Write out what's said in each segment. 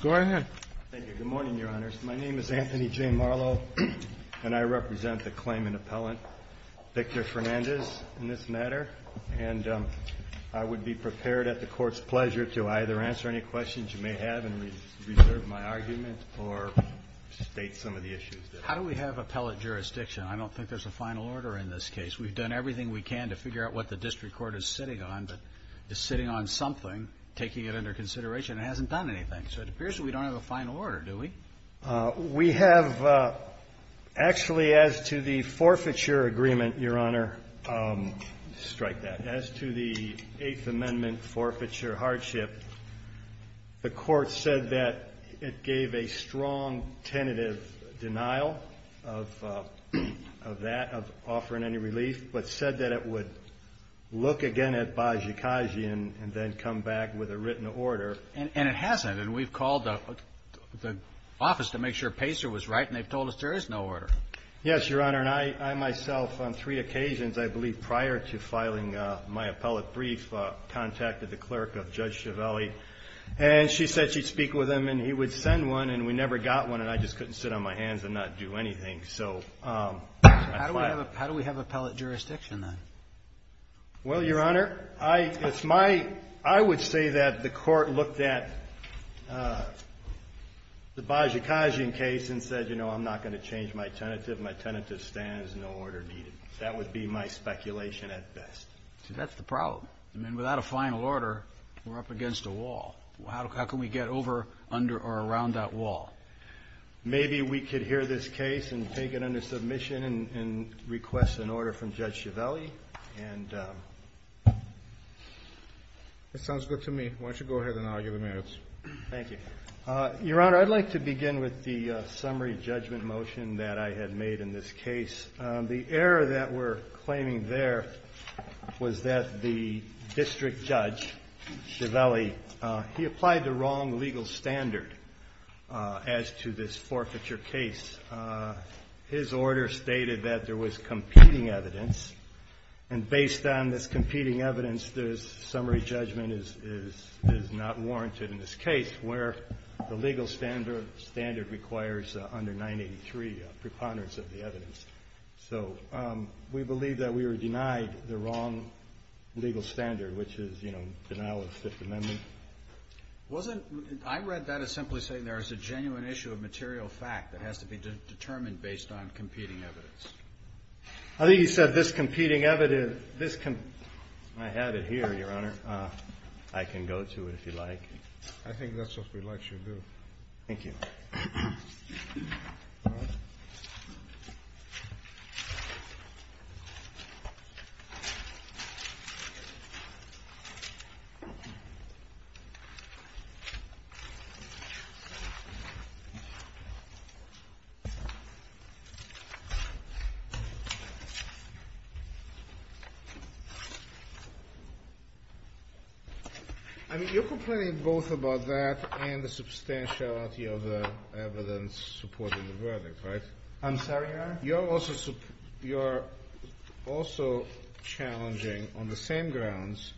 Good morning, Your Honors. My name is Anthony J. Marlowe, and I represent the claimant appellant Victor Fernandez in this matter, and I would be prepared at the Court's pleasure to either answer any questions you may have and reserve my argument or state some of the issues. How do we have appellate jurisdiction? I don't think there's a final order in this case. We've done everything we can to figure out what the district court is sitting on, but it's sitting on something, taking it under consideration, and it hasn't done anything. So it appears that we don't have a final order, do we? We have actually, as to the forfeiture agreement, Your Honor, strike that. As to the Eighth Amendment forfeiture hardship, the Court said that it gave a strong tentative denial of that, of offering any relief, but said that it would look again at Bozsikagy and then come back with a written order. And it hasn't, and we've called the office to make sure Pacer was right, and they've told us there is no order. Yes, Your Honor, and I myself, on three occasions, I believe prior to filing my appellate brief, contacted the clerk of Judge Ciavelli, and she said she'd speak with him, and he would send one, and we never got one, and I just couldn't sit on my hands and not do anything. So I filed it. How do we have appellate jurisdiction, then? Well, Your Honor, I would say that the Court looked at the Bozsikagy case and said, you know, I'm not going to change my tentative. My tentative stands, no order needed. That would be my speculation at best. See, that's the problem. I mean, without a final order, we're up against a wall. How can we get over or around that wall? Maybe we could hear this case and take it under submission and request an order from Judge Ciavelli, and that sounds good to me. Why don't you go ahead, and I'll give the merits. Thank you. Your Honor, I'd like to begin with the summary judgment motion that I had made in this case. The error that we're claiming there was that the district judge, Ciavelli, he applied the wrong legal standard as to this forfeiture case. His order stated that there was competing evidence, and based on this competing evidence, this summary judgment is not warranted in this case, where the legal standard requires under 983 preponderance of the evidence. So we believe that we were denied the wrong legal standard, which is, you know, denial of Fifth Amendment. I read that as simply saying there is a genuine issue of material fact that has to be determined based on competing evidence. I think you said this competing evidence. I had it here, Your Honor. I can go to it if you'd like. I think that's what we'd like you to do. Thank you. I mean, you're complaining both about that and the substantiality of the evidence supporting the verdict, right? You're also challenging, on the same grounds,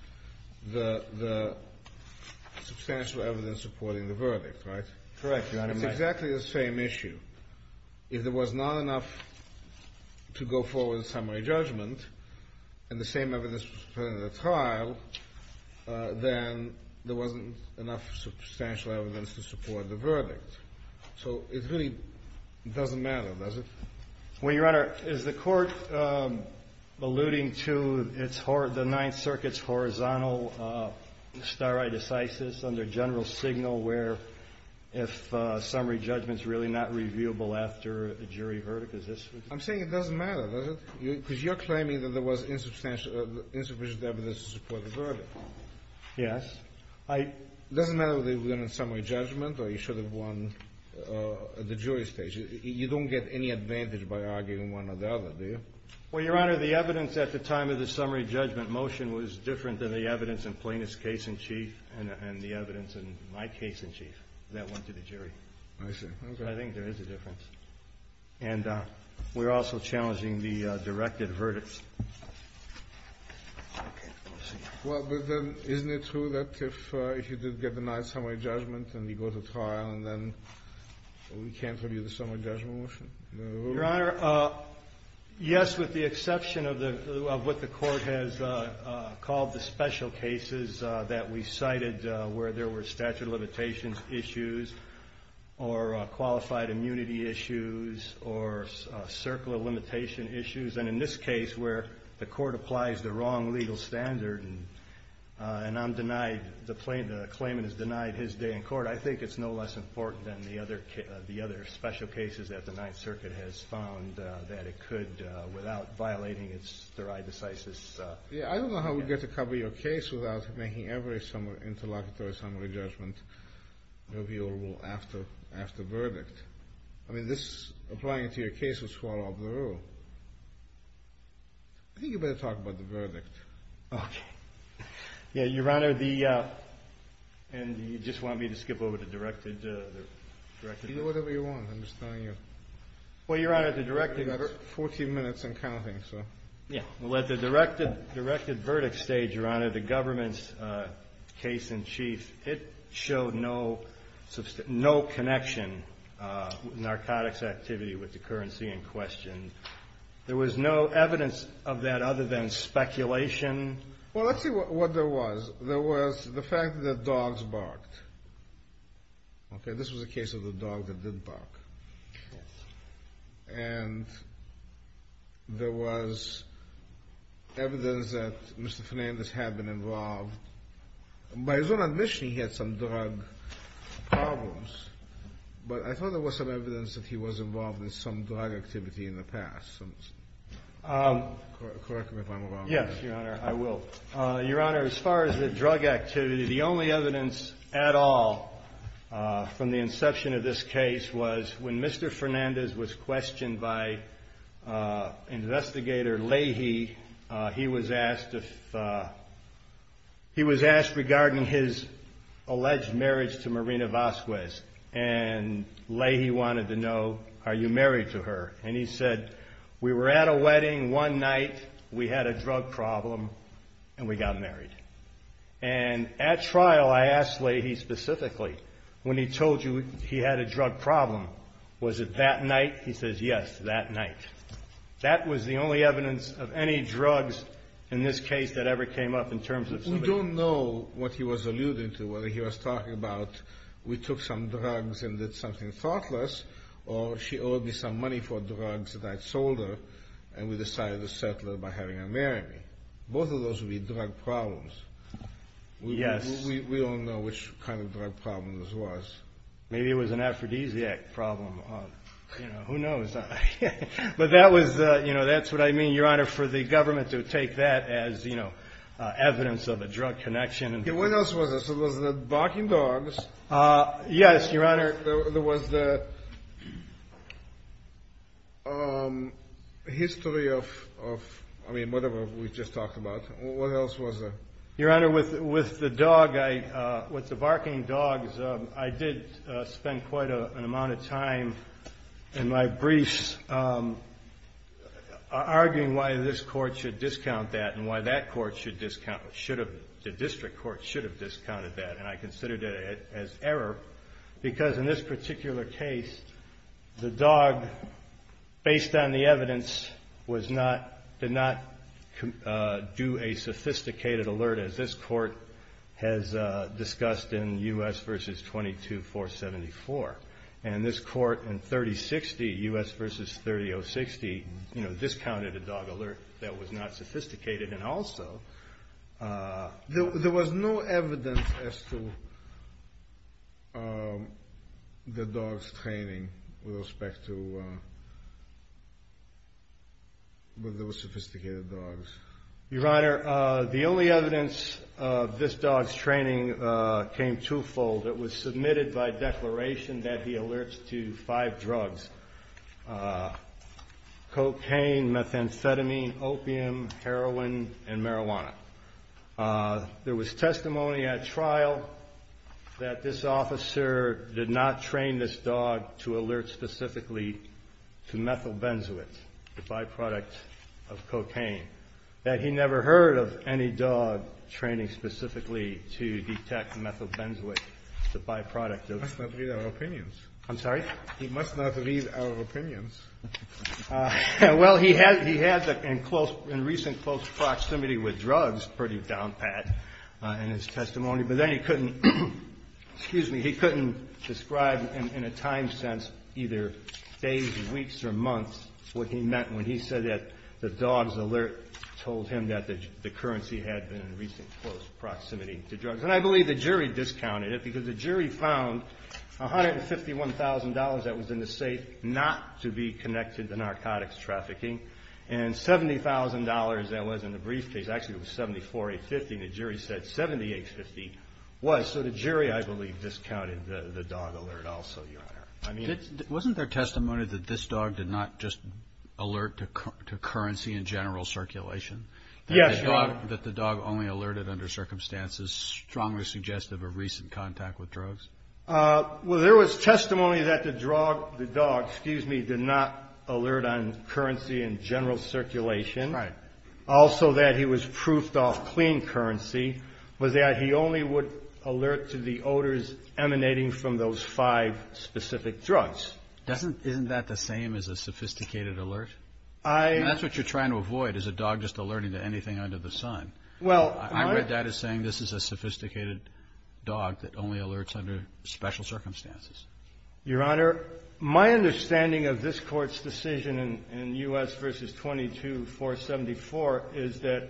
the substantial evidence supporting the verdict, right? Correct, Your Honor. It's exactly the same issue. If there was not enough to go forward in summary judgment and the same evidence was presented at trial, then there wasn't enough substantial evidence to support the verdict. So it really doesn't matter, does it? Your Honor, is the court alluding to the Ninth Circuit's horizontal stare decisis under general signal where if summary judgment's really not reviewable after a jury verdict? I'm saying it doesn't matter, does it? Because you're claiming that there was insufficient evidence to support the verdict. Yes. It doesn't matter whether you win in summary judgment or you should have won at the jury stage. You don't get any advantage by arguing one or the other, do you? Well, Your Honor, the evidence at the time of the summary judgment motion was different than the evidence in Plaintiff's case in chief and the evidence in my case in chief that went to the jury. I see, okay. I think there is a difference. And we're also challenging the directed verdicts. Well, but then isn't it true that if you did get the nice summary judgment and you go to trial and then we can't review the summary judgment motion? Your Honor, yes, with the exception of what the court has called the special cases that we cited where there were statute of limitations issues or qualified immunity issues or circle of limitation issues. And in this case where the court applies the wrong legal standard and I'm denied, the claimant is denied his day in court, I think it's no less important than the other special cases that the Ninth Circuit has found that it could, without violating its there decisis. Yeah, I don't know how we get to cover your case without making every interlocutory summary judgment reviewable after verdict. I mean, this, applying it to your case, would swallow up the rule. I think you better talk about the verdict. Okay. Yeah, Your Honor, the, and you just want me to skip over the directed? Do whatever you want, I'm just telling you. Well, Your Honor, the directed... You've got 14 minutes and counting, so... Yeah, well, at the directed verdict stage, Your Honor, the government's case in chief, it showed no connection, narcotics activity with the currency in question. There was no evidence of that other than speculation? Well, let's see what there was. There was the fact that dogs barked. Okay, this was a case of the dog that did bark. And there was evidence that Mr. Fernandez had been involved. By his own admission, he had some drug problems, but I thought there was some evidence that he was involved in some drug activity in the past. Correct me if I'm wrong. Yes, Your Honor, I will. Your Honor, as far as the drug activity, the only evidence at all from the inception of this case was when Mr. Fernandez was questioned by investigator Leahy, he was asked if... He was asked regarding his alleged marriage to Marina Vasquez, and Leahy wanted to know, are you married to her? And he said, we were at a wedding one night, we had a drug problem, and we got married. And at trial, I asked Leahy specifically, when he told you he had a drug problem, was it that night? He says, yes, that night. That was the only evidence of any drugs in this case that ever came up in terms of... We don't know what he was alluding to, whether he was talking about we took some drugs and did something thoughtless, or she owed me some money for drugs that I'd sold her, and we decided to settle it by having her marry me. Both of those would be drug problems. Yes. We don't know which kind of drug problem this was. Maybe it was an aphrodisiac problem. Who knows? But that's what I mean, Your Honor, for the government to take that as evidence of a drug connection. What else was this? It was the barking dogs. Yes, Your Honor. There was the history of, I mean, whatever we just talked about. What else was there? Your Honor, with the dog, with the barking dogs, I did spend quite an amount of time in my briefs arguing why this court should discount that, and why the district court should have discounted that. And I considered it as error, because in this particular case, the dog, based on the evidence, did not do a sophisticated alert, as this court has discussed in U.S. v. 22-474. And this court in 30-60, U.S. v. 30-060, discounted a dog alert that was not sophisticated. And also, there was no evidence as to the dog's training with respect to those sophisticated dogs. Your Honor, the only evidence of this dog's training came twofold. It was submitted by declaration that he alerts to five drugs, cocaine, methamphetamine, opium, heroin, and marijuana. There was testimony at trial that this officer did not train this dog to alert specifically to methylbenzoate, the byproduct of cocaine, that he never heard of any dog training specifically to detect methylbenzoate, the byproduct of... He must not read our opinions. I'm sorry? He must not read our opinions. Well, he had in recent close proximity with drugs pretty down pat in his testimony, but then he couldn't describe in a time sense either days, weeks, or months what he meant when he said that the dog's alert told him that the currency had been in recent close proximity to drugs. And I believe the jury discounted it, because the jury found $151,000 that was in the safe not to be connected to narcotics trafficking, and $70,000 that was in the briefcase. Actually, it was $74,850. The jury said $78,050 was. So the jury, I believe, discounted the dog alert also, Your Honor. Wasn't there testimony that this dog did not just alert to currency in general circulation? That the dog only alerted under circumstances strongly suggestive of recent contact with drugs? Well, there was testimony that the dog, excuse me, did not alert on currency in general circulation. Also, that he was proofed off clean currency, was that he only would alert to the odors emanating from those five specific drugs. Isn't that the same as a sophisticated alert? That's what you're trying to avoid is a dog just alerting to anything under the sun. I read that as saying this is a sophisticated dog that only alerts under special circumstances. Your Honor, my understanding of this Court's decision in U.S. v. 22-474 is that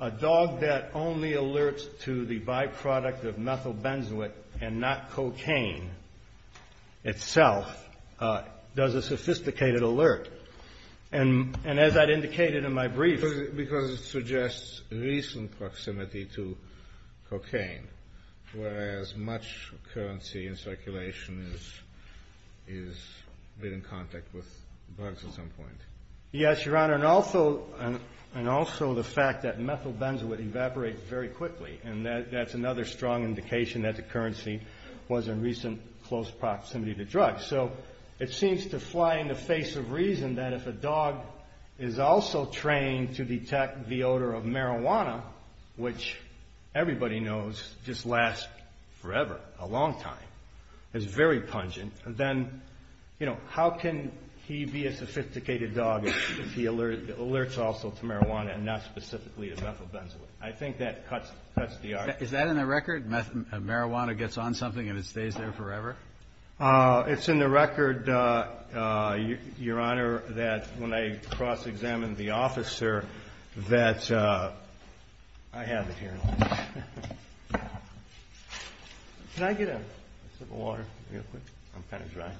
a dog that only alerts to the byproduct of methyl benzoate and not cocaine itself does a sophisticated alert. And as I'd indicated in my brief. Because it suggests recent proximity to cocaine, whereas much currency in circulation is in contact with drugs at some point. Yes, Your Honor. And also the fact that methyl benzoate evaporates very quickly. And that's another strong indication that the currency was in recent close proximity to drugs. So it seems to fly in the face of reason that if a dog is also trained to detect the odor of marijuana, which everybody knows just lasts forever, a long time, is very pungent. Then, you know, how can he be a sophisticated dog if he alerts also to marijuana and not specifically to methyl benzoate? I think that cuts the arc. Is that in the record? Marijuana gets on something and it stays there forever? It's in the record, Your Honor. When I cross-examined the officer that... I have it here. Can I get a sip of water real quick? I'm kind of dry.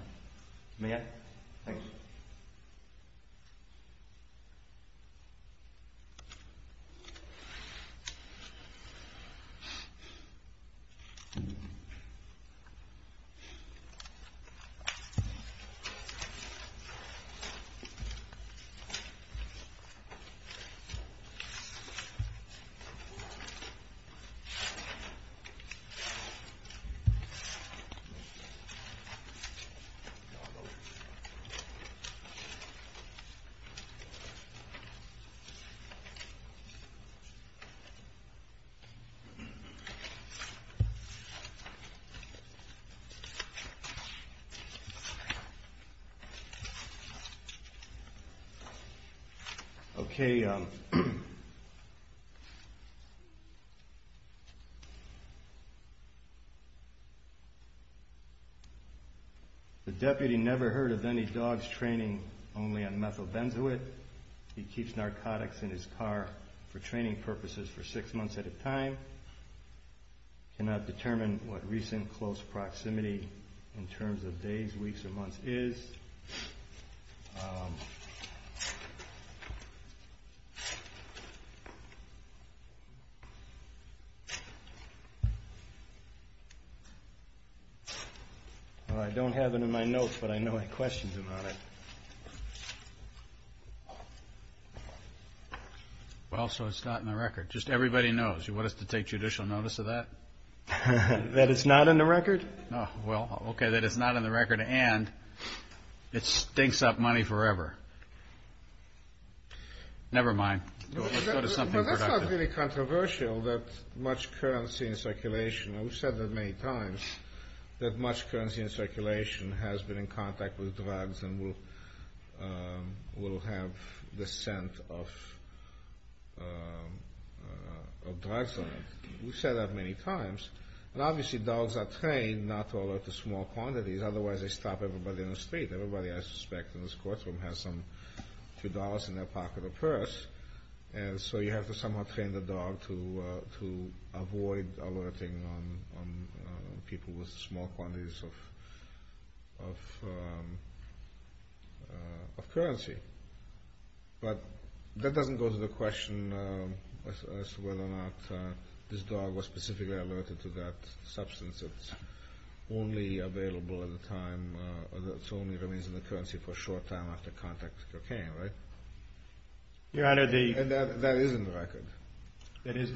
May I? Thank you. Okay. Okay. The deputy never heard of any dogs training only on methyl benzoate. He keeps narcotics in his car for training purposes for six months at a time. Cannot determine what recent close proximity in terms of days, weeks, or months is. Well, I don't have it in my notes, but I know any questions about it. Well, so it's not in the record. Just everybody knows. You want us to take judicial notice of that? That it's not in the record? No. Well, okay, that it's not in the record and it stinks up money forever. Never mind. Let's go to something productive. Well, that's not really controversial that much currency in circulation... We've said that many times, that much currency in circulation has been in contact with drugs and will have the scent of drugs on it. We've said that many times. And obviously, dogs are trained not to alert to small quantities. Otherwise, they stop everybody in the street. Everybody, I suspect, in this courtroom has a dog. Two dollars in their pocket or purse. So you have to somehow train the dog to avoid alerting people with small quantities of currency. But that doesn't go to the question as to whether or not this dog was specifically alerted to that substance. It only remains in the currency for a short time after contact with cocaine, right? Your Honor, the... And that is in the record. That is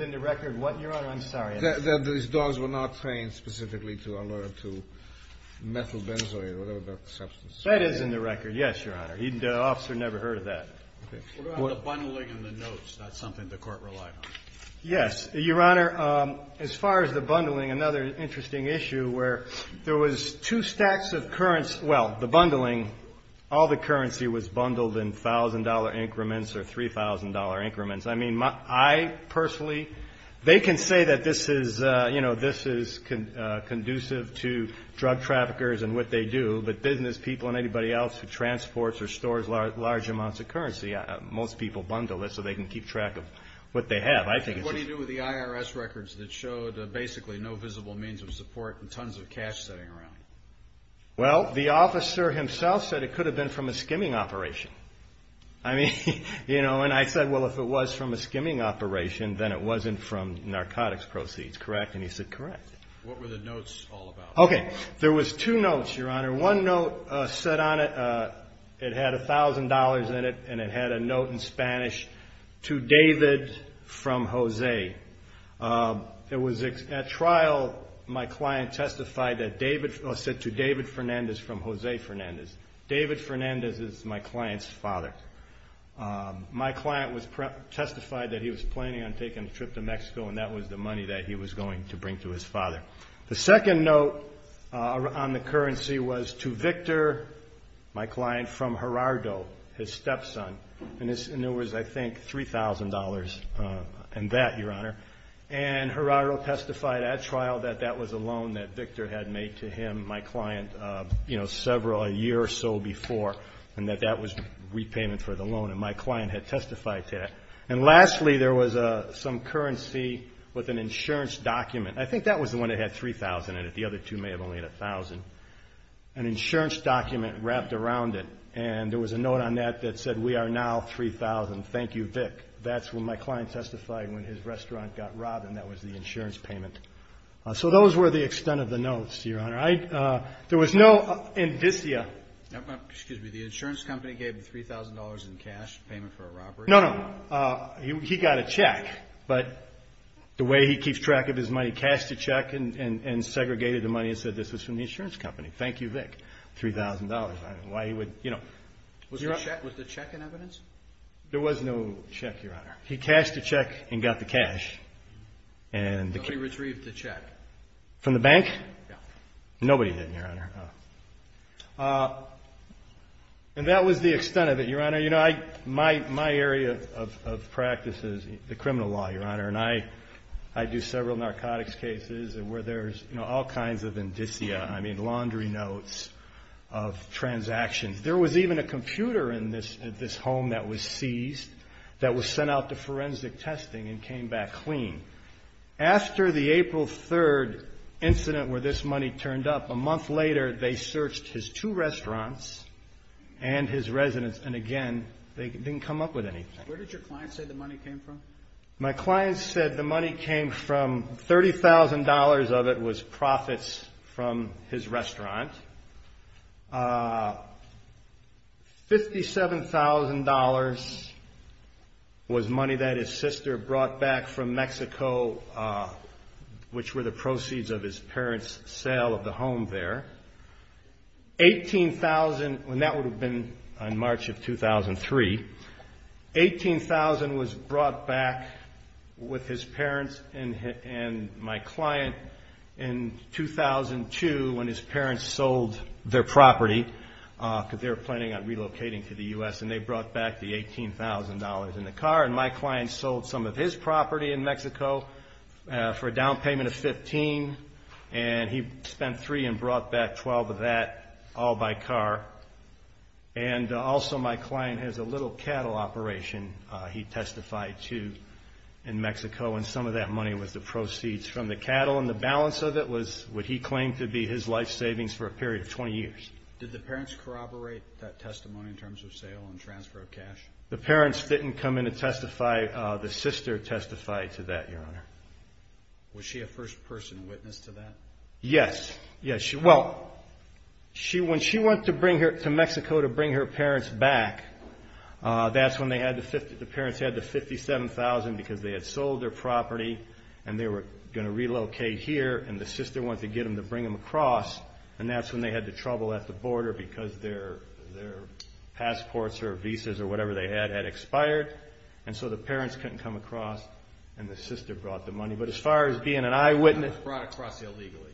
in the record. What, Your Honor? I'm sorry. That these dogs were not trained specifically to alert to methyl benzoate or whatever that substance is. That is in the record. Yes, Your Honor. The officer never heard of that. What about the bundling and the notes? That's something the court relied on. Yes, Your Honor. As far as the bundling, another interesting issue where there was two stacks of currency. Well, the bundling, all the currency was bundled in $1,000 increments or $3,000 increments. I mean, I personally, they can say that this is conducive to drug traffickers and what they do. But business people and anybody else who transports or stores large amounts of currency, most people bundle this so they can keep track of what they have. What do you do with the IRS records that showed basically no visible means of support and tons of cash sitting around? Well, the officer himself said it could have been from a skimming operation. I mean, you know, and I said, well, if it was from a skimming operation, then it wasn't from narcotics proceeds, correct? And he said, correct. What were the notes all about? Okay. There was two notes, Your Honor. One note said on it, it had $1,000 in it. And it had a note in Spanish, to David from Jose. It was at trial, my client testified that David said to David Fernandez from Jose Fernandez. David Fernandez is my client's father. My client testified that he was planning on taking a trip to Mexico and that was the money that he was going to bring to his father. The second note on the currency was to Victor, my client, from Gerardo, his stepson. And it was, I think, $3,000 in that, Your Honor. And Gerardo testified at trial that that was a loan that Victor had made to him, my client, you know, several, a year or so before, and that that was repayment for the loan. And my client had testified to that. And lastly, there was some currency with an insurance document. I think that was the one that had $3,000 in it. The other two may have only had $1,000. An insurance document wrapped around it. And there was a note on that that said, we are now $3,000. Thank you, Vic. That's when my client testified when his restaurant got robbed and that was the insurance payment. So those were the extent of the notes, Your Honor. There was no indicia. Excuse me. The insurance company gave him $3,000 in cash payment for a robbery? No, no. He got a check. But the way he keeps track of his money, he cashed the check and segregated the money and said this was from the insurance company. Thank you, Vic. $3,000. I don't know why he would, you know. Was the check in evidence? There was no check, Your Honor. He cashed the check and got the cash. And he retrieved the check? From the bank? Nobody did, Your Honor. And that was the extent of it, Your Honor. My area of practice is the criminal law, Your Honor. And I do several narcotics cases where there's all kinds of indicia. I mean laundry notes of transactions. There was even a computer in this home that was seized that was sent out to forensic testing and came back clean. After the April 3rd incident where this money turned up, a month later they searched his two restaurants and his residence. And again, they didn't come up with anything. Where did your client say the money came from? My client said the money came from $30,000 of it was profits from his restaurant. $57,000 was money that his sister brought back from Mexico, which were the proceeds of his parents' sale of the home there. $18,000, and that would have been in March of 2003. $18,000 was brought back with his parents and my client in 2002 when his parents sold their property because they were planning on relocating to the U.S. And they brought back the $18,000 in the car. And my client sold some of his property in Mexico for a down payment of $15,000. And he spent $3,000 and brought back $12,000 of that all by car. And also, my client has a little cattle operation he testified to in Mexico. And some of that money was the proceeds from the cattle. And the balance of it was what he claimed to be his life savings for a period of 20 years. Did the parents corroborate that testimony in terms of sale and transfer of cash? The parents didn't come in to testify. The sister testified to that, Your Honor. Was she a first-person witness to that? Yes. Yes. Well, when she went to Mexico to bring her parents back, that's when the parents had the $57,000 because they had sold their property. And they were going to relocate here. And the sister wanted to get them to bring them across. And that's when they had the trouble at the border because their passports or visas or whatever they had had expired. And so the parents couldn't come across. And the sister brought the money. But as far as being an eyewitness... It was brought across illegally.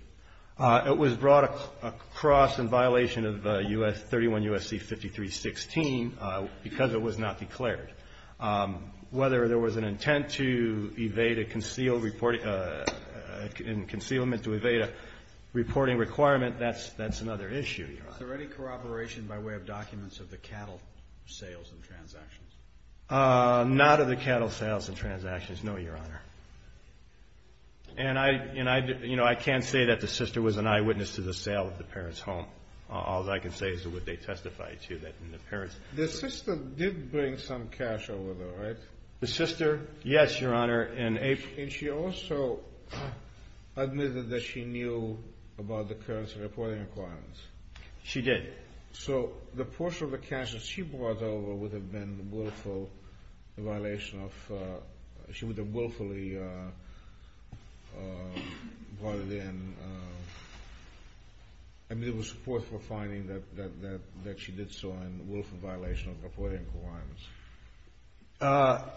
It was brought across in violation of 31 U.S.C. 5316 because it was not declared. Whether there was an intent to evade a concealment to evade a reporting requirement, that's another issue, Your Honor. Was there any corroboration by way of documents of the cattle sales and transactions? None of the cattle sales and transactions, no, Your Honor. And I can't say that the sister was an eyewitness to the sale of the parents' home. All I can say is what they testified to, that the parents... The sister did bring some cash over, right? The sister? Yes, Your Honor. And she also admitted that she knew about the currency reporting requirements. She did. So the portion of the cash that she brought over would have been willful in violation of... She would have willfully brought it in. I mean, there was support for finding that she did so in willful violation of reporting requirements.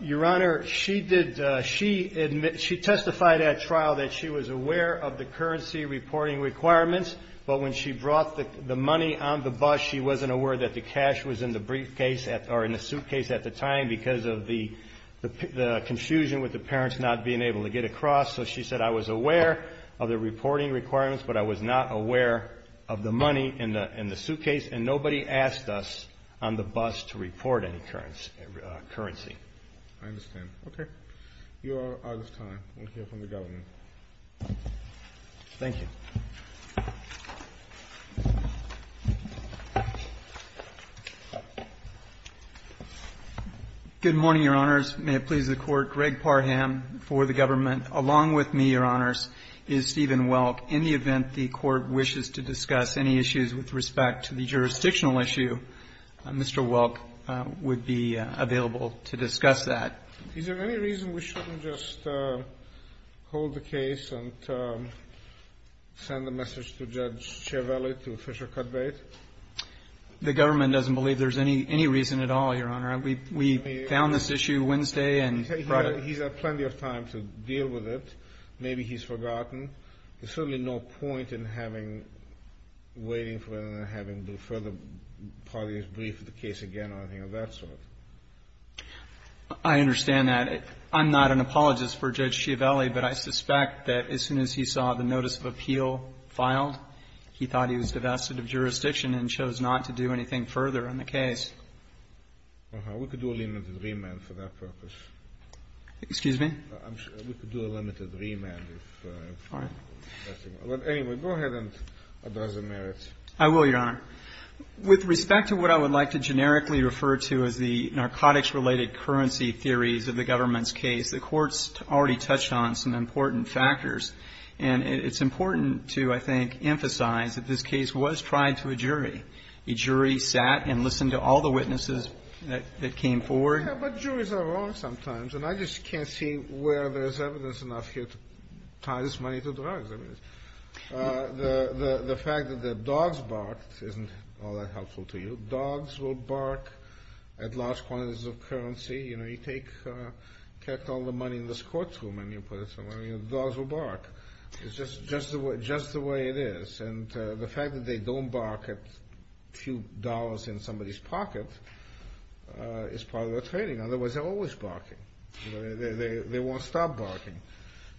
Your Honor, she did... She testified at trial that she was aware of the currency reporting requirements. But when she brought the money on the bus, she wasn't aware that the cash was in the briefcase or in the suitcase at the time because of the confusion with the parents not being able to get across. So she said, I was aware of the reporting requirements, but I was not aware of the money in the suitcase. And nobody asked us on the bus to report any currency. I understand. Okay. You are out of time. We'll hear from the government. Thank you. Good morning, Your Honors. May it please the Court. Greg Parham for the government. Along with me, Your Honors, is Stephen Welk. In the event the Court wishes to discuss any issues with respect to the jurisdictional issue, Mr. Welk would be available to discuss that. Is there any reason we shouldn't just hold the case and send a message to Judge Ciavelli, to Fisher-Cudbate? The government doesn't believe there's any reason at all, Your Honor. We found this issue Wednesday and Friday. He's had plenty of time to deal with it. Maybe he's forgotten. There's certainly no point in having... waiting for them and having the further parties brief the case again or anything of that sort. I understand that. I'm not an apologist for Judge Ciavelli, but I suspect that as soon as he saw the notice of appeal filed, he thought he was divested of jurisdiction and chose not to do anything further on the case. Uh-huh. We could do a limited remand for that purpose. Excuse me? We could do a limited remand if... All right. Anyway, go ahead and address the merits. I will, Your Honor. With respect to what I would like to generically refer to as the narcotics-related currency theories of the government's case, the Court's already touched on some important factors. And it's important to, I think, emphasize that this case was tried to a jury. A jury sat and listened to all the witnesses that came forward. Yeah, but juries are wrong sometimes, and I just can't see where there's evidence enough here to tie this money to drugs. I mean, the fact that the dogs barked isn't all that helpful to you. Dogs will bark at large quantities of currency. You know, you take all the money in this courtroom, and you put it somewhere, and the dogs will bark. It's just the way it is. And the fact that they don't bark at a few dollars in somebody's pocket is part of their trading. Otherwise, they're always barking. They won't stop barking.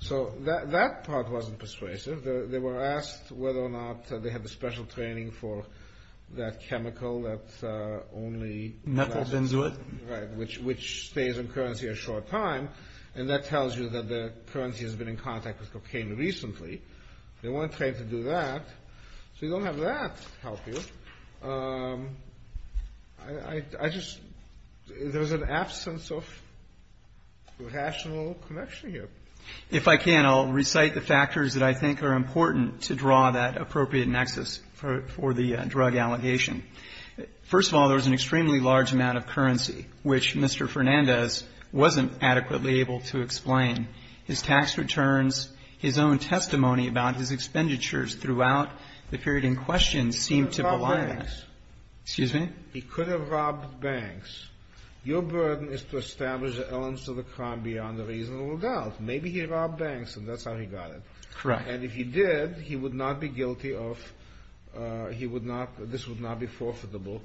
So that part wasn't persuasive. They were asked whether or not they had the special training for that chemical that's only... Methyl benzoate. Right, which stays in currency a short time, and that tells you that the currency has been in contact with cocaine recently. They weren't trained to do that. So you don't have that help you. There's an absence of rational connection here. If I can, I'll recite the factors that I think are important to draw that appropriate nexus for the drug allegation. First of all, there was an extremely large amount of currency, which Mr. Fernandez wasn't adequately able to explain. His tax returns, his own testimony about his expenditures throughout the period in question seemed to belie that. He could have robbed banks. Excuse me? He could have robbed banks. Your burden is to establish the elements of the crime beyond a reasonable doubt. Maybe he robbed banks, and that's how he got it. Correct. And if he did, he would not be guilty of... He would not... This would not be forfeitable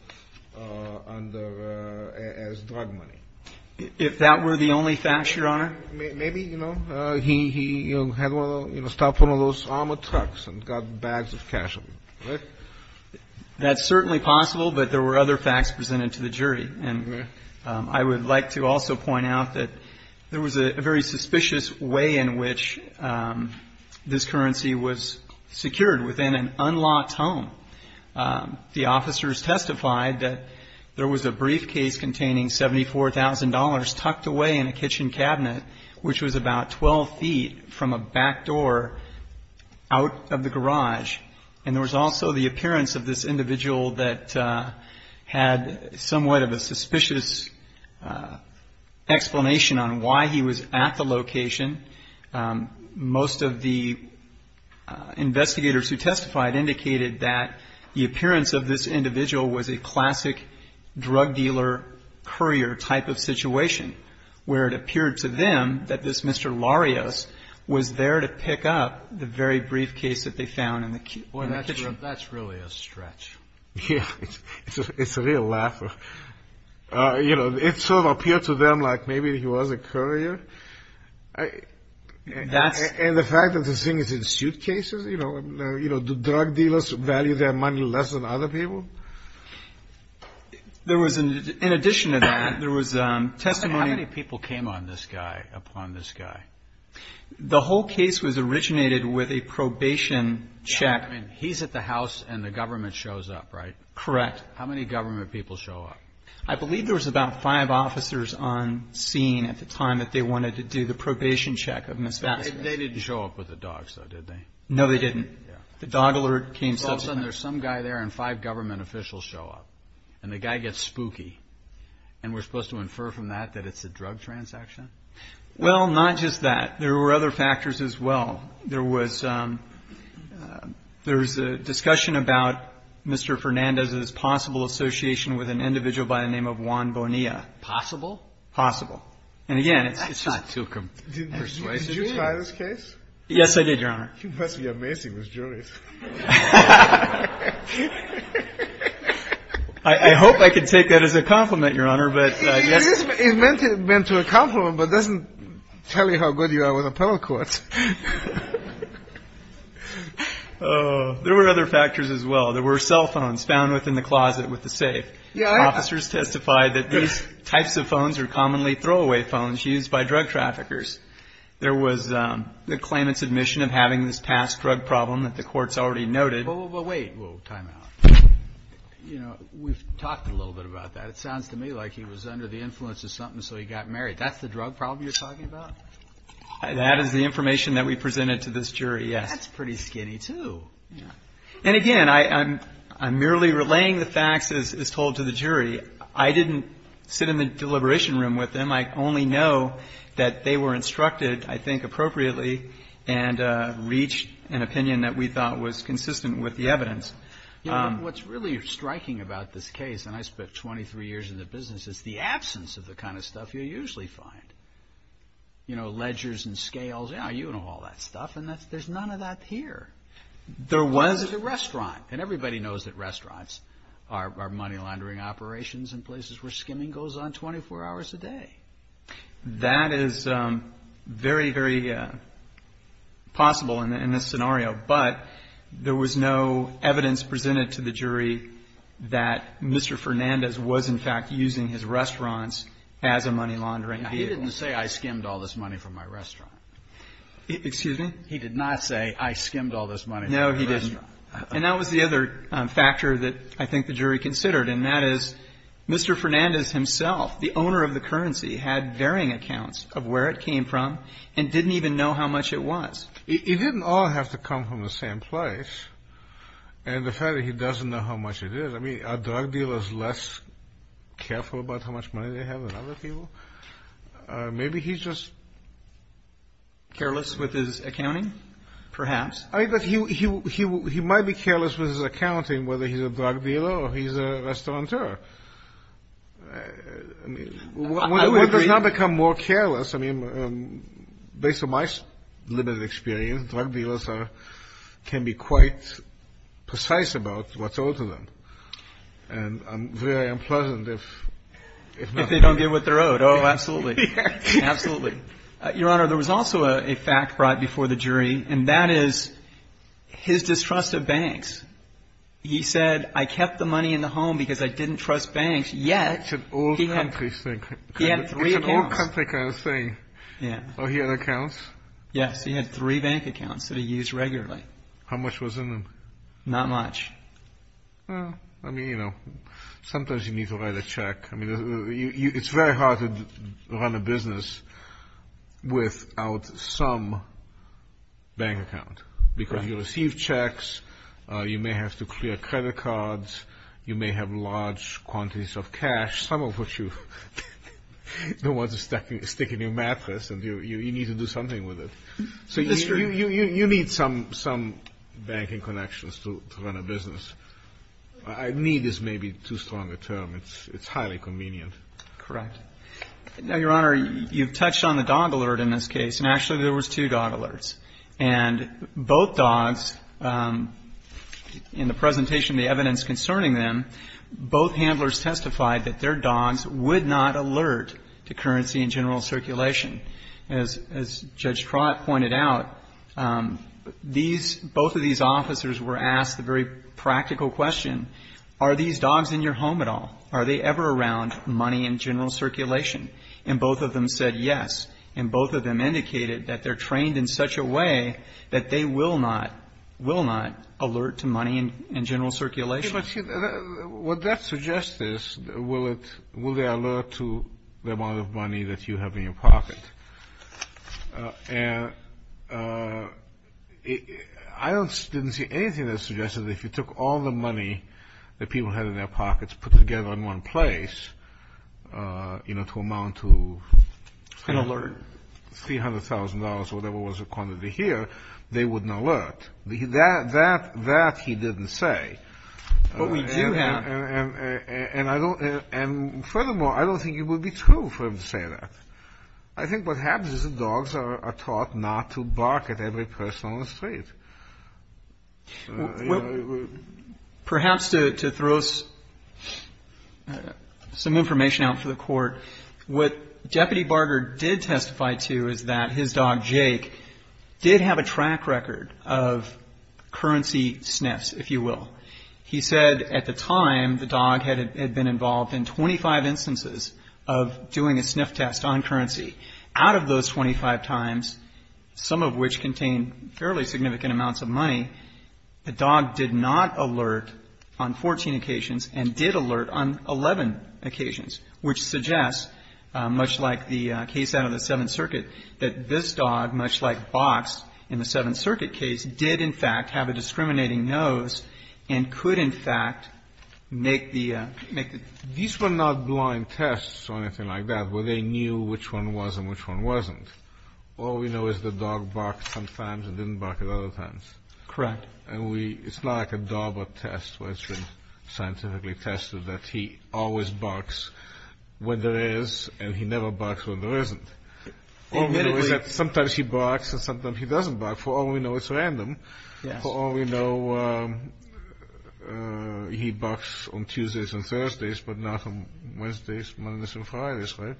as drug money. If that were the only fact, Your Honor? Maybe, you know, he stopped one of those armored trucks and got bags of cash. That's certainly possible, but there were other facts presented to the jury. And I would like to also point out that there was a very suspicious way in which this currency was secured within an unlocked home. The officers testified that there was a briefcase containing $74,000 tucked away in a kitchen cabinet, which was about 12 feet from a back door out of the garage. And there was also the appearance of this individual that had somewhat of a suspicious explanation on why he was at the location. Most of the investigators who testified indicated that the appearance of this individual was a classic drug dealer courier type of situation, where it appeared to them that this Mr. That's really a stretch. Yeah, it's a real laugh. You know, it sort of appeared to them like maybe he was a courier. And the fact that this thing is in suitcases, you know, do drug dealers value their money less than other people? In addition to that, there was testimony... How many people came on this guy, upon this guy? The whole case was originated with a probation check. I mean, he's at the house and the government shows up, right? Correct. How many government people show up? I believe there was about five officers on scene at the time that they wanted to do the probation check of Mr. That. They didn't show up with the dogs, though, did they? No, they didn't. The dog alert came... So all of a sudden there's some guy there and five government officials show up, and the guy gets spooky. And we're supposed to infer from that that it's a drug transaction? Well, not just that. There were other factors as well. There was a discussion about Mr. Fernandez's possible association with an individual by the name of Juan Bonilla. Possible? Possible. And again, it's not too persuasive. Did you try this case? Yes, I did, Your Honor. You must be amazing with juries. I hope I can take that as a compliment, Your Honor. It is meant to be a compliment, but it doesn't tell you how good you are with appellate courts. There were other factors as well. There were cell phones found within the closet with the safe. Officers testified that these types of phones are commonly throwaway phones used by drug traffickers. There was the claimant's admission of having this past drug problem that the courts already noted. But wait. We'll time out. You know, we've talked a little bit about that. It sounds to me like he was under the influence of something, so he got married. That's the drug problem you're talking about? That is the information that we presented to this jury, yes. That's pretty skinny, too. And again, I'm merely relaying the facts as told to the jury. I didn't sit in the deliberation room with them. I only know that they were instructed, I think, appropriately and reached an opinion that we thought was consistent with the evidence. What's really striking about this case, and I spent 23 years in the business, is the absence of the kind of stuff you usually find. You know, ledgers and scales. Yeah, you know all that stuff. And there's none of that here. There was a restaurant. And everybody knows that restaurants are money laundering operations and places where skimming goes on 24 hours a day. That is very, very possible in this scenario. But there was no evidence presented to the jury that Mr. Fernandez was, in fact, using his restaurants as a money laundering vehicle. He didn't say, I skimmed all this money from my restaurant. Excuse me? He did not say, I skimmed all this money from my restaurant. No, he didn't. And that was the other factor that I think the jury considered. And that is, Mr. Fernandez himself, the owner of the currency, had varying accounts of where it came from and didn't even know how much it was. He didn't all have to come from the same place. And the fact that he doesn't know how much it is, I mean, are drug dealers less careful about how much money they have than other people? Maybe he's just Careless with his accounting? Perhaps. I think that he might be careless with his accounting, whether he's a drug dealer or he's a restaurateur. I mean, what does not become more careless? I mean, based on my limited experience, drug dealers can be quite precise about what's owed to them. And I'm very unpleasant if they don't get what they're owed. Oh, absolutely. Absolutely. Your Honor, there was also a fact right before the jury, and that is his distrust of banks. He said, I kept the money in the home because I didn't trust banks. Yet, he had three accounts. It's an old country kind of thing. Oh, he had accounts? Yes, he had three bank accounts that he used regularly. How much was in them? Not much. Well, I mean, you know, sometimes you need to write a check. I mean, it's very hard to run a business without some bank account. Because you receive checks. You may have to clear credit cards. You may have large quantities of cash, some of which you don't want to stick in your mattress. And you need to do something with it. So you need some banking connections to run a business. I need is maybe too strong a term. It's highly convenient. Correct. Now, Your Honor, you've touched on the dog alert in this case. And actually, there was two dog alerts. And both dogs, in the presentation, the evidence concerning them, both handlers testified that their dogs would not alert to currency and general circulation. As Judge Trott pointed out, these, both of these officers were asked a very practical question. Are these dogs in your home at all? Are they ever around money and general circulation? And both of them said yes. And both of them indicated that they're trained in such a way that they will not, will not alert to money and general circulation. Would that suggest this? Will they alert to the amount of money that you have in your pocket? And I didn't see anything that suggested that if you took all the money that people had in their pockets, put together in one place, you know, to amount to. An alert. $300,000, whatever was the quantity here, they wouldn't alert. That he didn't say. But we do have. And furthermore, I don't think it would be true for him to say that. I think what happens is the dogs are taught not to bark at every person on the street. Perhaps to throw some information out for the Court, what Deputy Barger did testify to is that his dog, Jake, did have a track record of currency sniffs, if you will. He said at the time the dog had been involved in 25 instances of doing a sniff test on currency. Out of those 25 times, some of which contained fairly significant amounts of money, the dog did not alert on 14 occasions and did alert on 11 occasions, which suggests, much like the case out of the Seventh Circuit, that this dog, much like Box in the Seventh Circuit case, did in fact have a discriminating nose and could in fact make the. These were not blind tests or anything like that, where they knew which one was and which one wasn't. All we know is the dog barked sometimes and didn't bark at other times. Correct. And we, it's not like a DARPA test where it's been scientifically tested that he always barks when there is and he never barks when there isn't. Admittedly. All we know is that sometimes he barks and sometimes he doesn't bark. For all we know, it's random. Yes. For all we know, he barks on Tuesdays and Thursdays, but not on Wednesdays, Mondays and Fridays, right?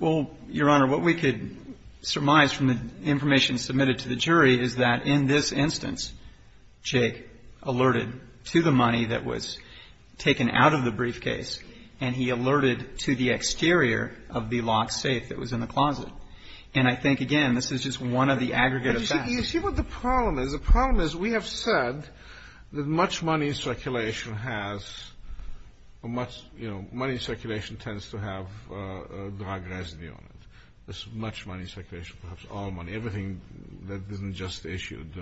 Well, Your Honor, what we could surmise from the information submitted to the jury is that in this instance, Jake alerted to the money that was taken out of the briefcase and he alerted to the exterior of the locked safe that was in the closet. And I think, again, this is just one of the aggregate effects. You see what the problem is? The problem is we have said that much money in circulation has a much, you know, money in circulation tends to have a drug residue on it. There's much money in circulation, perhaps all money, everything that isn't just issued,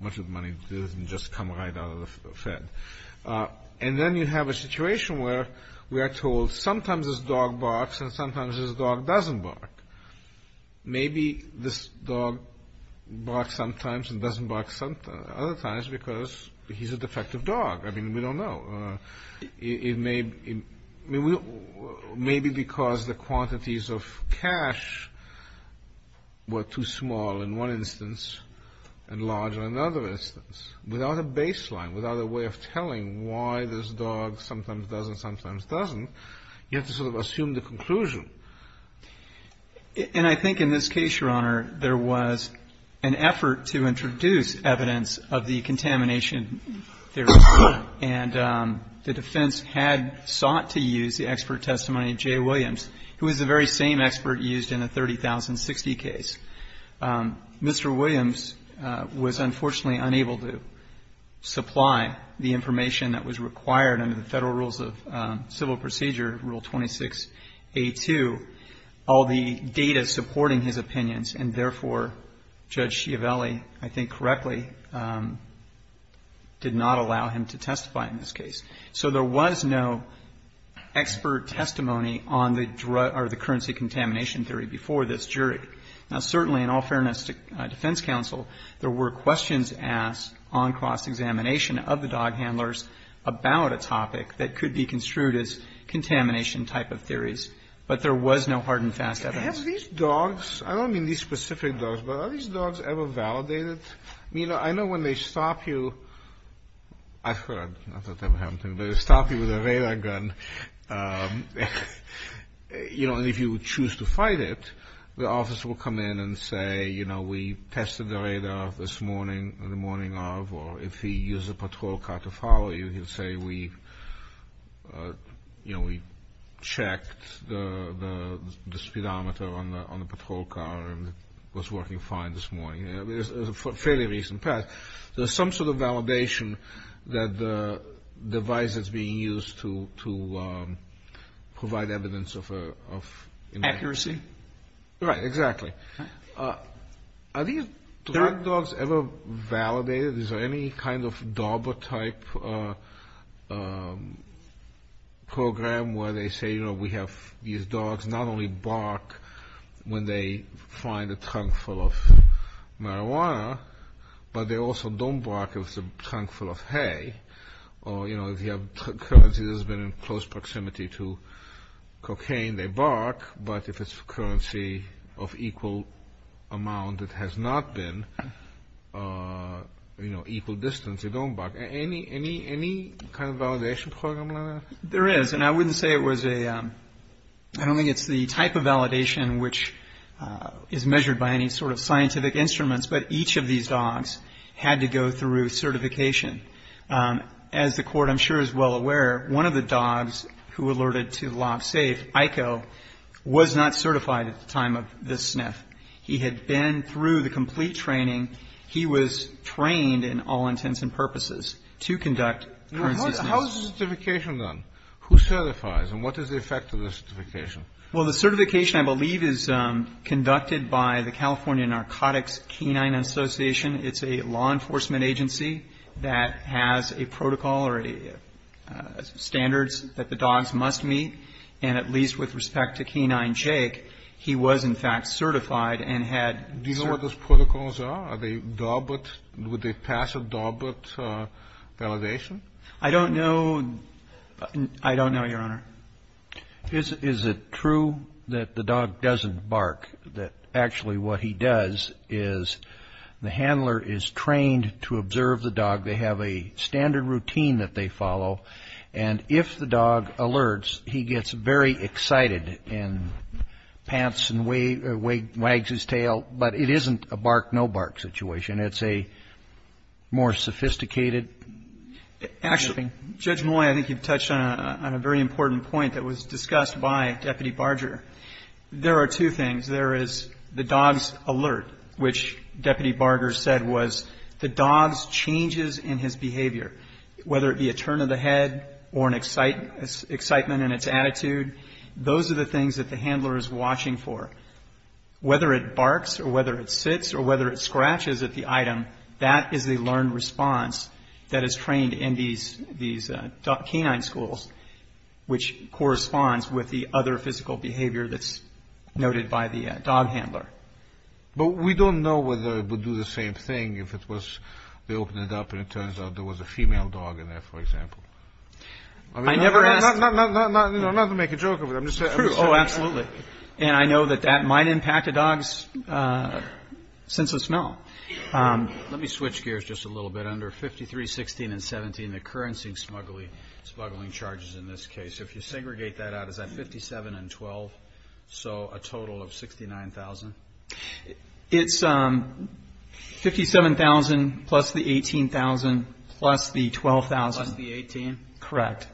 much of the money doesn't just come right out of the Fed. And then you have a situation where we are told sometimes this dog barks and sometimes this dog doesn't bark. Maybe this dog barks sometimes and doesn't bark other times because he's a defective dog. I mean, we don't know. It may be because the quantities of cash were too small in one instance and large in another instance. Without a baseline, without a way of telling why this dog sometimes does and sometimes doesn't, you have to sort of assume the conclusion. And I think in this case, Your Honor, there was an effort to introduce evidence of the contamination theory. And the defense had sought to use the expert testimony of Jay Williams, who is the very same expert used in the 30,060 case. Mr. Williams was unfortunately unable to supply the information that was required under the Federal Rules of Civil Procedure, Rule 26A2, all the data supporting his opinions. And therefore, Judge Schiavelli, I think correctly, did not allow him to testify in this case. So there was no expert testimony on the currency contamination theory before this jury. Now, certainly in all fairness to defense counsel, there were questions asked on cross-examination of the dog handlers about a topic that could be construed as contamination type of theories. But there was no hard and fast evidence. Have these dogs, I don't mean these specific dogs, but are these dogs ever validated? I mean, I know when they stop you, I've heard, not that that ever happened to me, but they stop you with a radar gun, you know, and if you choose to fight it, the officer will come in and say, you know, we tested the radar this morning, the morning of, or if he used a patrol car to follow you, he'll say we, you know, we checked the speedometer on the patrol car and it was working fine this morning. I mean, it was a fairly recent past. There's some sort of validation that the device is being used to provide evidence of accuracy. Right, exactly. Are these dogs ever validated? Is there any kind of DARPA-type program where they say, you know, we have these dogs not only bark when they find a trunk full of marijuana, but they also don't bark if it's a trunk full of hay, or, you know, if you have currency that's been in close proximity to cocaine, they bark, but if it's currency of equal amount that has not been, you know, equal distance, they don't bark. Any kind of validation program like that? There is, and I wouldn't say it was a, I don't think it's the type of validation which is measured by any sort of scientific instruments, but each of these dogs had to go through certification. As the Court, I'm sure, is well aware, one of the dogs who alerted to LOBSAFE, Aiko, was not certified at the time of this sniff. He had been through the complete training. He was trained in all intents and purposes to conduct currency sniffs. How is the certification done? Who certifies, and what is the effect of the certification? Well, the certification, I believe, is conducted by the California Narcotics Canine Association. It's a law enforcement agency that has a protocol or standards that the dogs must meet, and at least with respect to Kenai and Jake, he was, in fact, certified and had cert... Do you know what those protocols are? Are they DAWBOT? Would they pass a DAWBOT validation? I don't know. I don't know, Your Honor. Is it true that the dog doesn't bark? That actually what he does is the handler is trained to observe the dog. They have a standard routine that they follow, and if the dog alerts, he gets very excited and pants and wags his tail, but it isn't a bark, no bark situation. It's a more sophisticated sniffing. Actually, Judge Moy, I think you've touched on a very important point that was discussed by Deputy Barger. There are two things. There is the dog's alert, which Deputy Barger said was the dog's changes in his behavior, whether it be a turn of the head or an excitement in its attitude. Those are the things that the handler is watching for. Whether it barks or whether it sits or whether it scratches at the item, that is a learned response that is trained in these Kenai schools, which corresponds with the other physical behavior that's noted by the dog handler. But we don't know whether it would do the same thing if it was... A female dog in there, for example. I mean, not to make a joke of it, I'm just saying... Oh, absolutely. And I know that that might impact a dog's sense of smell. Let me switch gears just a little bit. Under 53, 16, and 17, the currency smuggling charges in this case, if you segregate that out, is that 57 and 12, so a total of 69,000? It's 57,000 plus the 18,000 plus the 12,000. Plus the 18? Correct.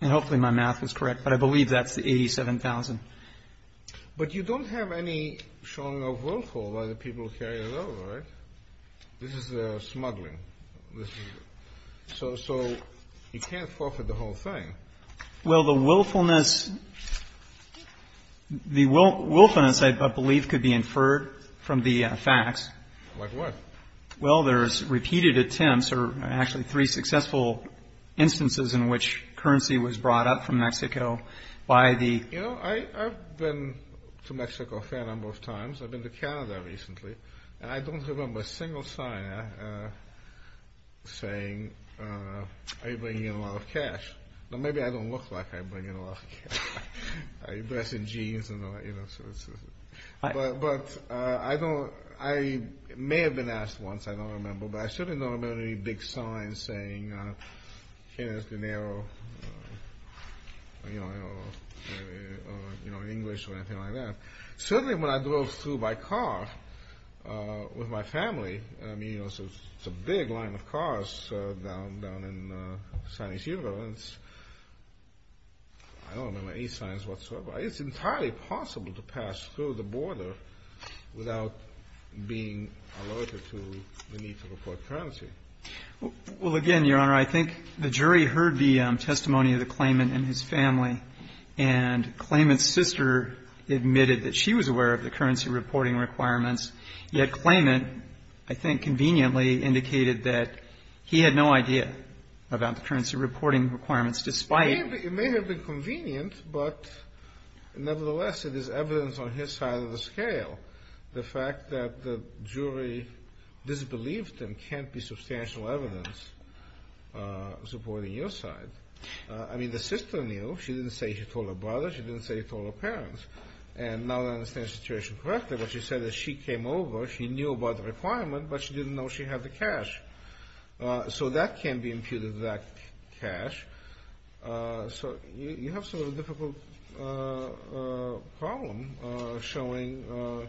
And hopefully my math is correct, but I believe that's the 87,000. But you don't have any showing of willful by the people who carry it over, right? This is smuggling. And so you can't forfeit the whole thing. Well, the willfulness, I believe, could be inferred from the facts. Like what? Well, there's repeated attempts, or actually three successful instances in which currency was brought up from Mexico by the... You know, I've been to Mexico a fair number of times. I've been to Canada recently. And I don't remember a single sign saying, are you bringing in a lot of cash? Now, maybe I don't look like I bring in a lot of cash. Are you dressing jeans? But I don't... I may have been asked once, I don't remember. But I certainly don't remember any big signs saying, here's the narrow, you know, English or anything like that. Certainly when I drove through by car with my family, I mean, you know, it's a big line of cars down in San Ysidro. And I don't remember any signs whatsoever. It's entirely possible to pass through the border without being alerted to the need to report currency. Well, again, Your Honor, I think the jury heard the testimony of the claimant and his family. And claimant's sister admitted that she was aware of the currency reporting requirements. Yet claimant, I think, conveniently indicated that he had no idea about the currency reporting requirements, despite... It may have been convenient, but nevertheless, it is evidence on his side of the scale. The fact that the jury disbelieved them can't be substantial evidence supporting your side. I mean, the sister knew. She didn't say she told her brother. She didn't say she told her parents. And now that I understand the situation correctly, what she said is she came over, she knew about the requirement, but she didn't know she had the cash. So that can be imputed to that cash. So you have sort of a difficult problem showing...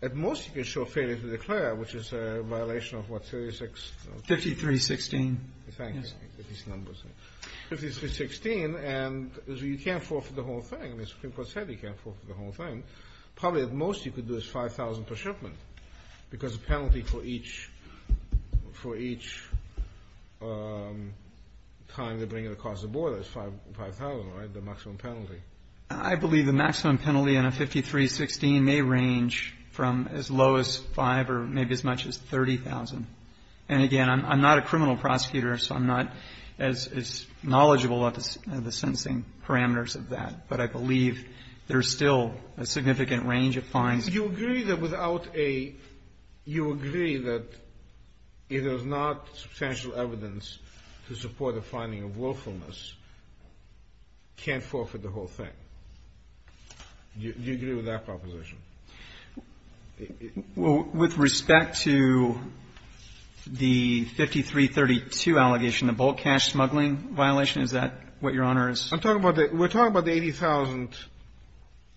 At most, you can show failure to declare, which is a violation of what, 36? 53-16. Thank you for these numbers. 53-16, and you can't forfeit the whole thing. I mean, Supreme Court said you can't forfeit the whole thing. Probably, at most, you could do is 5,000 per shipment, because the penalty for each time they bring it across the border is 5,000, right? The maximum penalty. I believe the maximum penalty on a 53-16 may range from as low as 5 or maybe as much as 30,000. And again, I'm not a criminal prosecutor, so I'm not as knowledgeable about the sentencing parameters of that. But I believe there's still a significant range of fines. Do you agree that without a... You agree that if there's not substantial evidence to support a finding of willfulness, can't forfeit the whole thing? Do you agree with that proposition? With respect to the 53-32 allegation, the bulk cash smuggling violation, is that what Your Honor is... I'm talking about the... We're talking about the 80,000.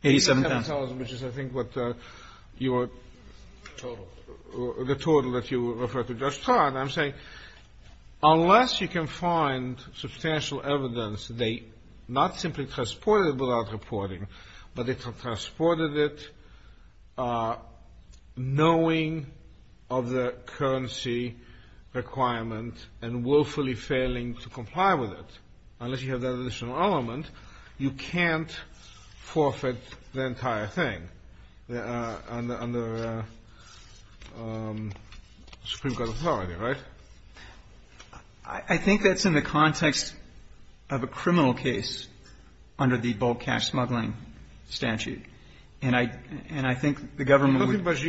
87,000. 87,000, which is, I think, what your... Total. The total that you referred to. Judge Todd, I'm saying, unless you can find substantial evidence, they not simply transported without reporting, but they transported it knowing of the currency requirement and willfully failing to comply with it. Unless you have that additional element, you can't forfeit the entire thing under Supreme Court authority, right? I think that's in the context of a criminal case under the bulk cash smuggling statute. And I think the government... You don't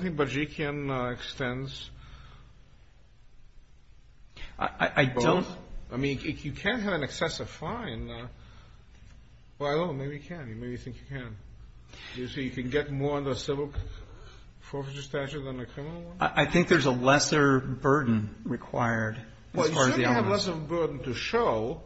think Barzhikian extends... I don't... I mean, if you can't have an excessive fine... Well, I don't know. Maybe you can. Maybe you think you can. Do you think you can get more under civil forfeiture statute than a criminal one? I think there's a lesser burden required as far as the elements. Well, you certainly have less of a burden to show.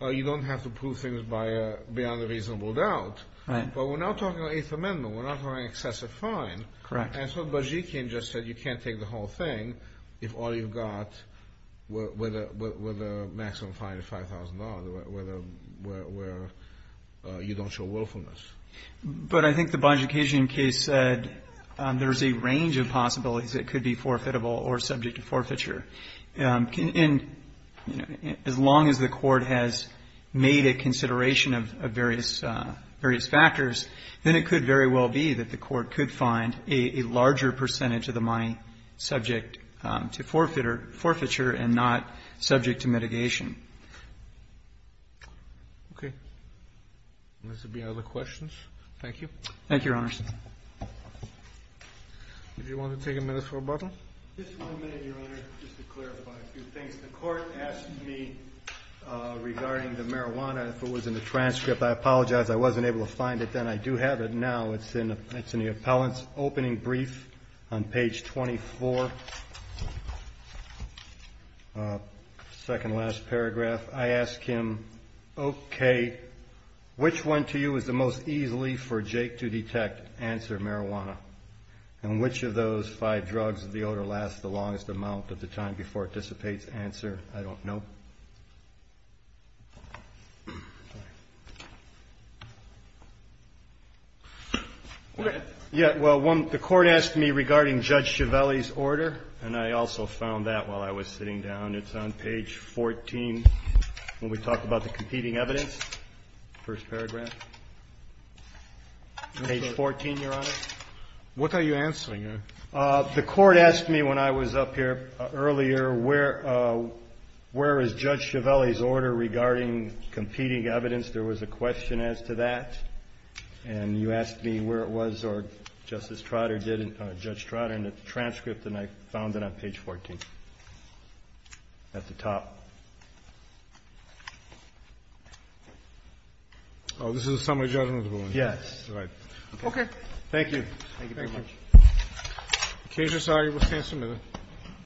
You don't have to prove things beyond a reasonable doubt. Right. But we're not talking about Eighth Amendment. We're not talking excessive fine. Correct. And so Barzhikian just said you can't take the whole thing if all you've got were the maximum fine of $5,000, where you don't show willfulness. But I think the Barzhikian case said there's a range of possibilities that could be forfeitable or subject to forfeiture. And as long as the court has made a consideration of various factors, then it could very well be that the court could find a larger percentage of the money subject to forfeiture and not subject to mitigation. Okay. Unless there'd be other questions. Thank you. Thank you, Your Honor. Did you want to take a minute for rebuttal? Just one minute, Your Honor, just to clarify a few things. The court asked me regarding the marijuana, if it was in the transcript. I apologize. I wasn't able to find it then. I do have it now. It's in the appellant's opening brief on page 24, second to last paragraph. I asked him, okay, which one to you is the most easily for Jake to detect? Answer, marijuana. And which of those five drugs of the odor lasts the longest amount of the time before it dissipates? Answer, I don't know. Yeah, well, the court asked me regarding Judge Giavelli's order, and I also found that while I was sitting down. It's on page 14 when we talk about the competing evidence, first paragraph. Page 14, Your Honor. What are you answering? The court asked me when I was up here earlier, where is Judge Giavelli's order regarding competing evidence? There was a question as to that. And you asked me where it was, or Justice Trotter did, Judge Trotter, in the transcript, and I found it on page 14. At the top. Oh, this is a summary judgment ruling. Yes. All right. Okay. Thank you. Thank you very much. The case is signed. You will stand submitted.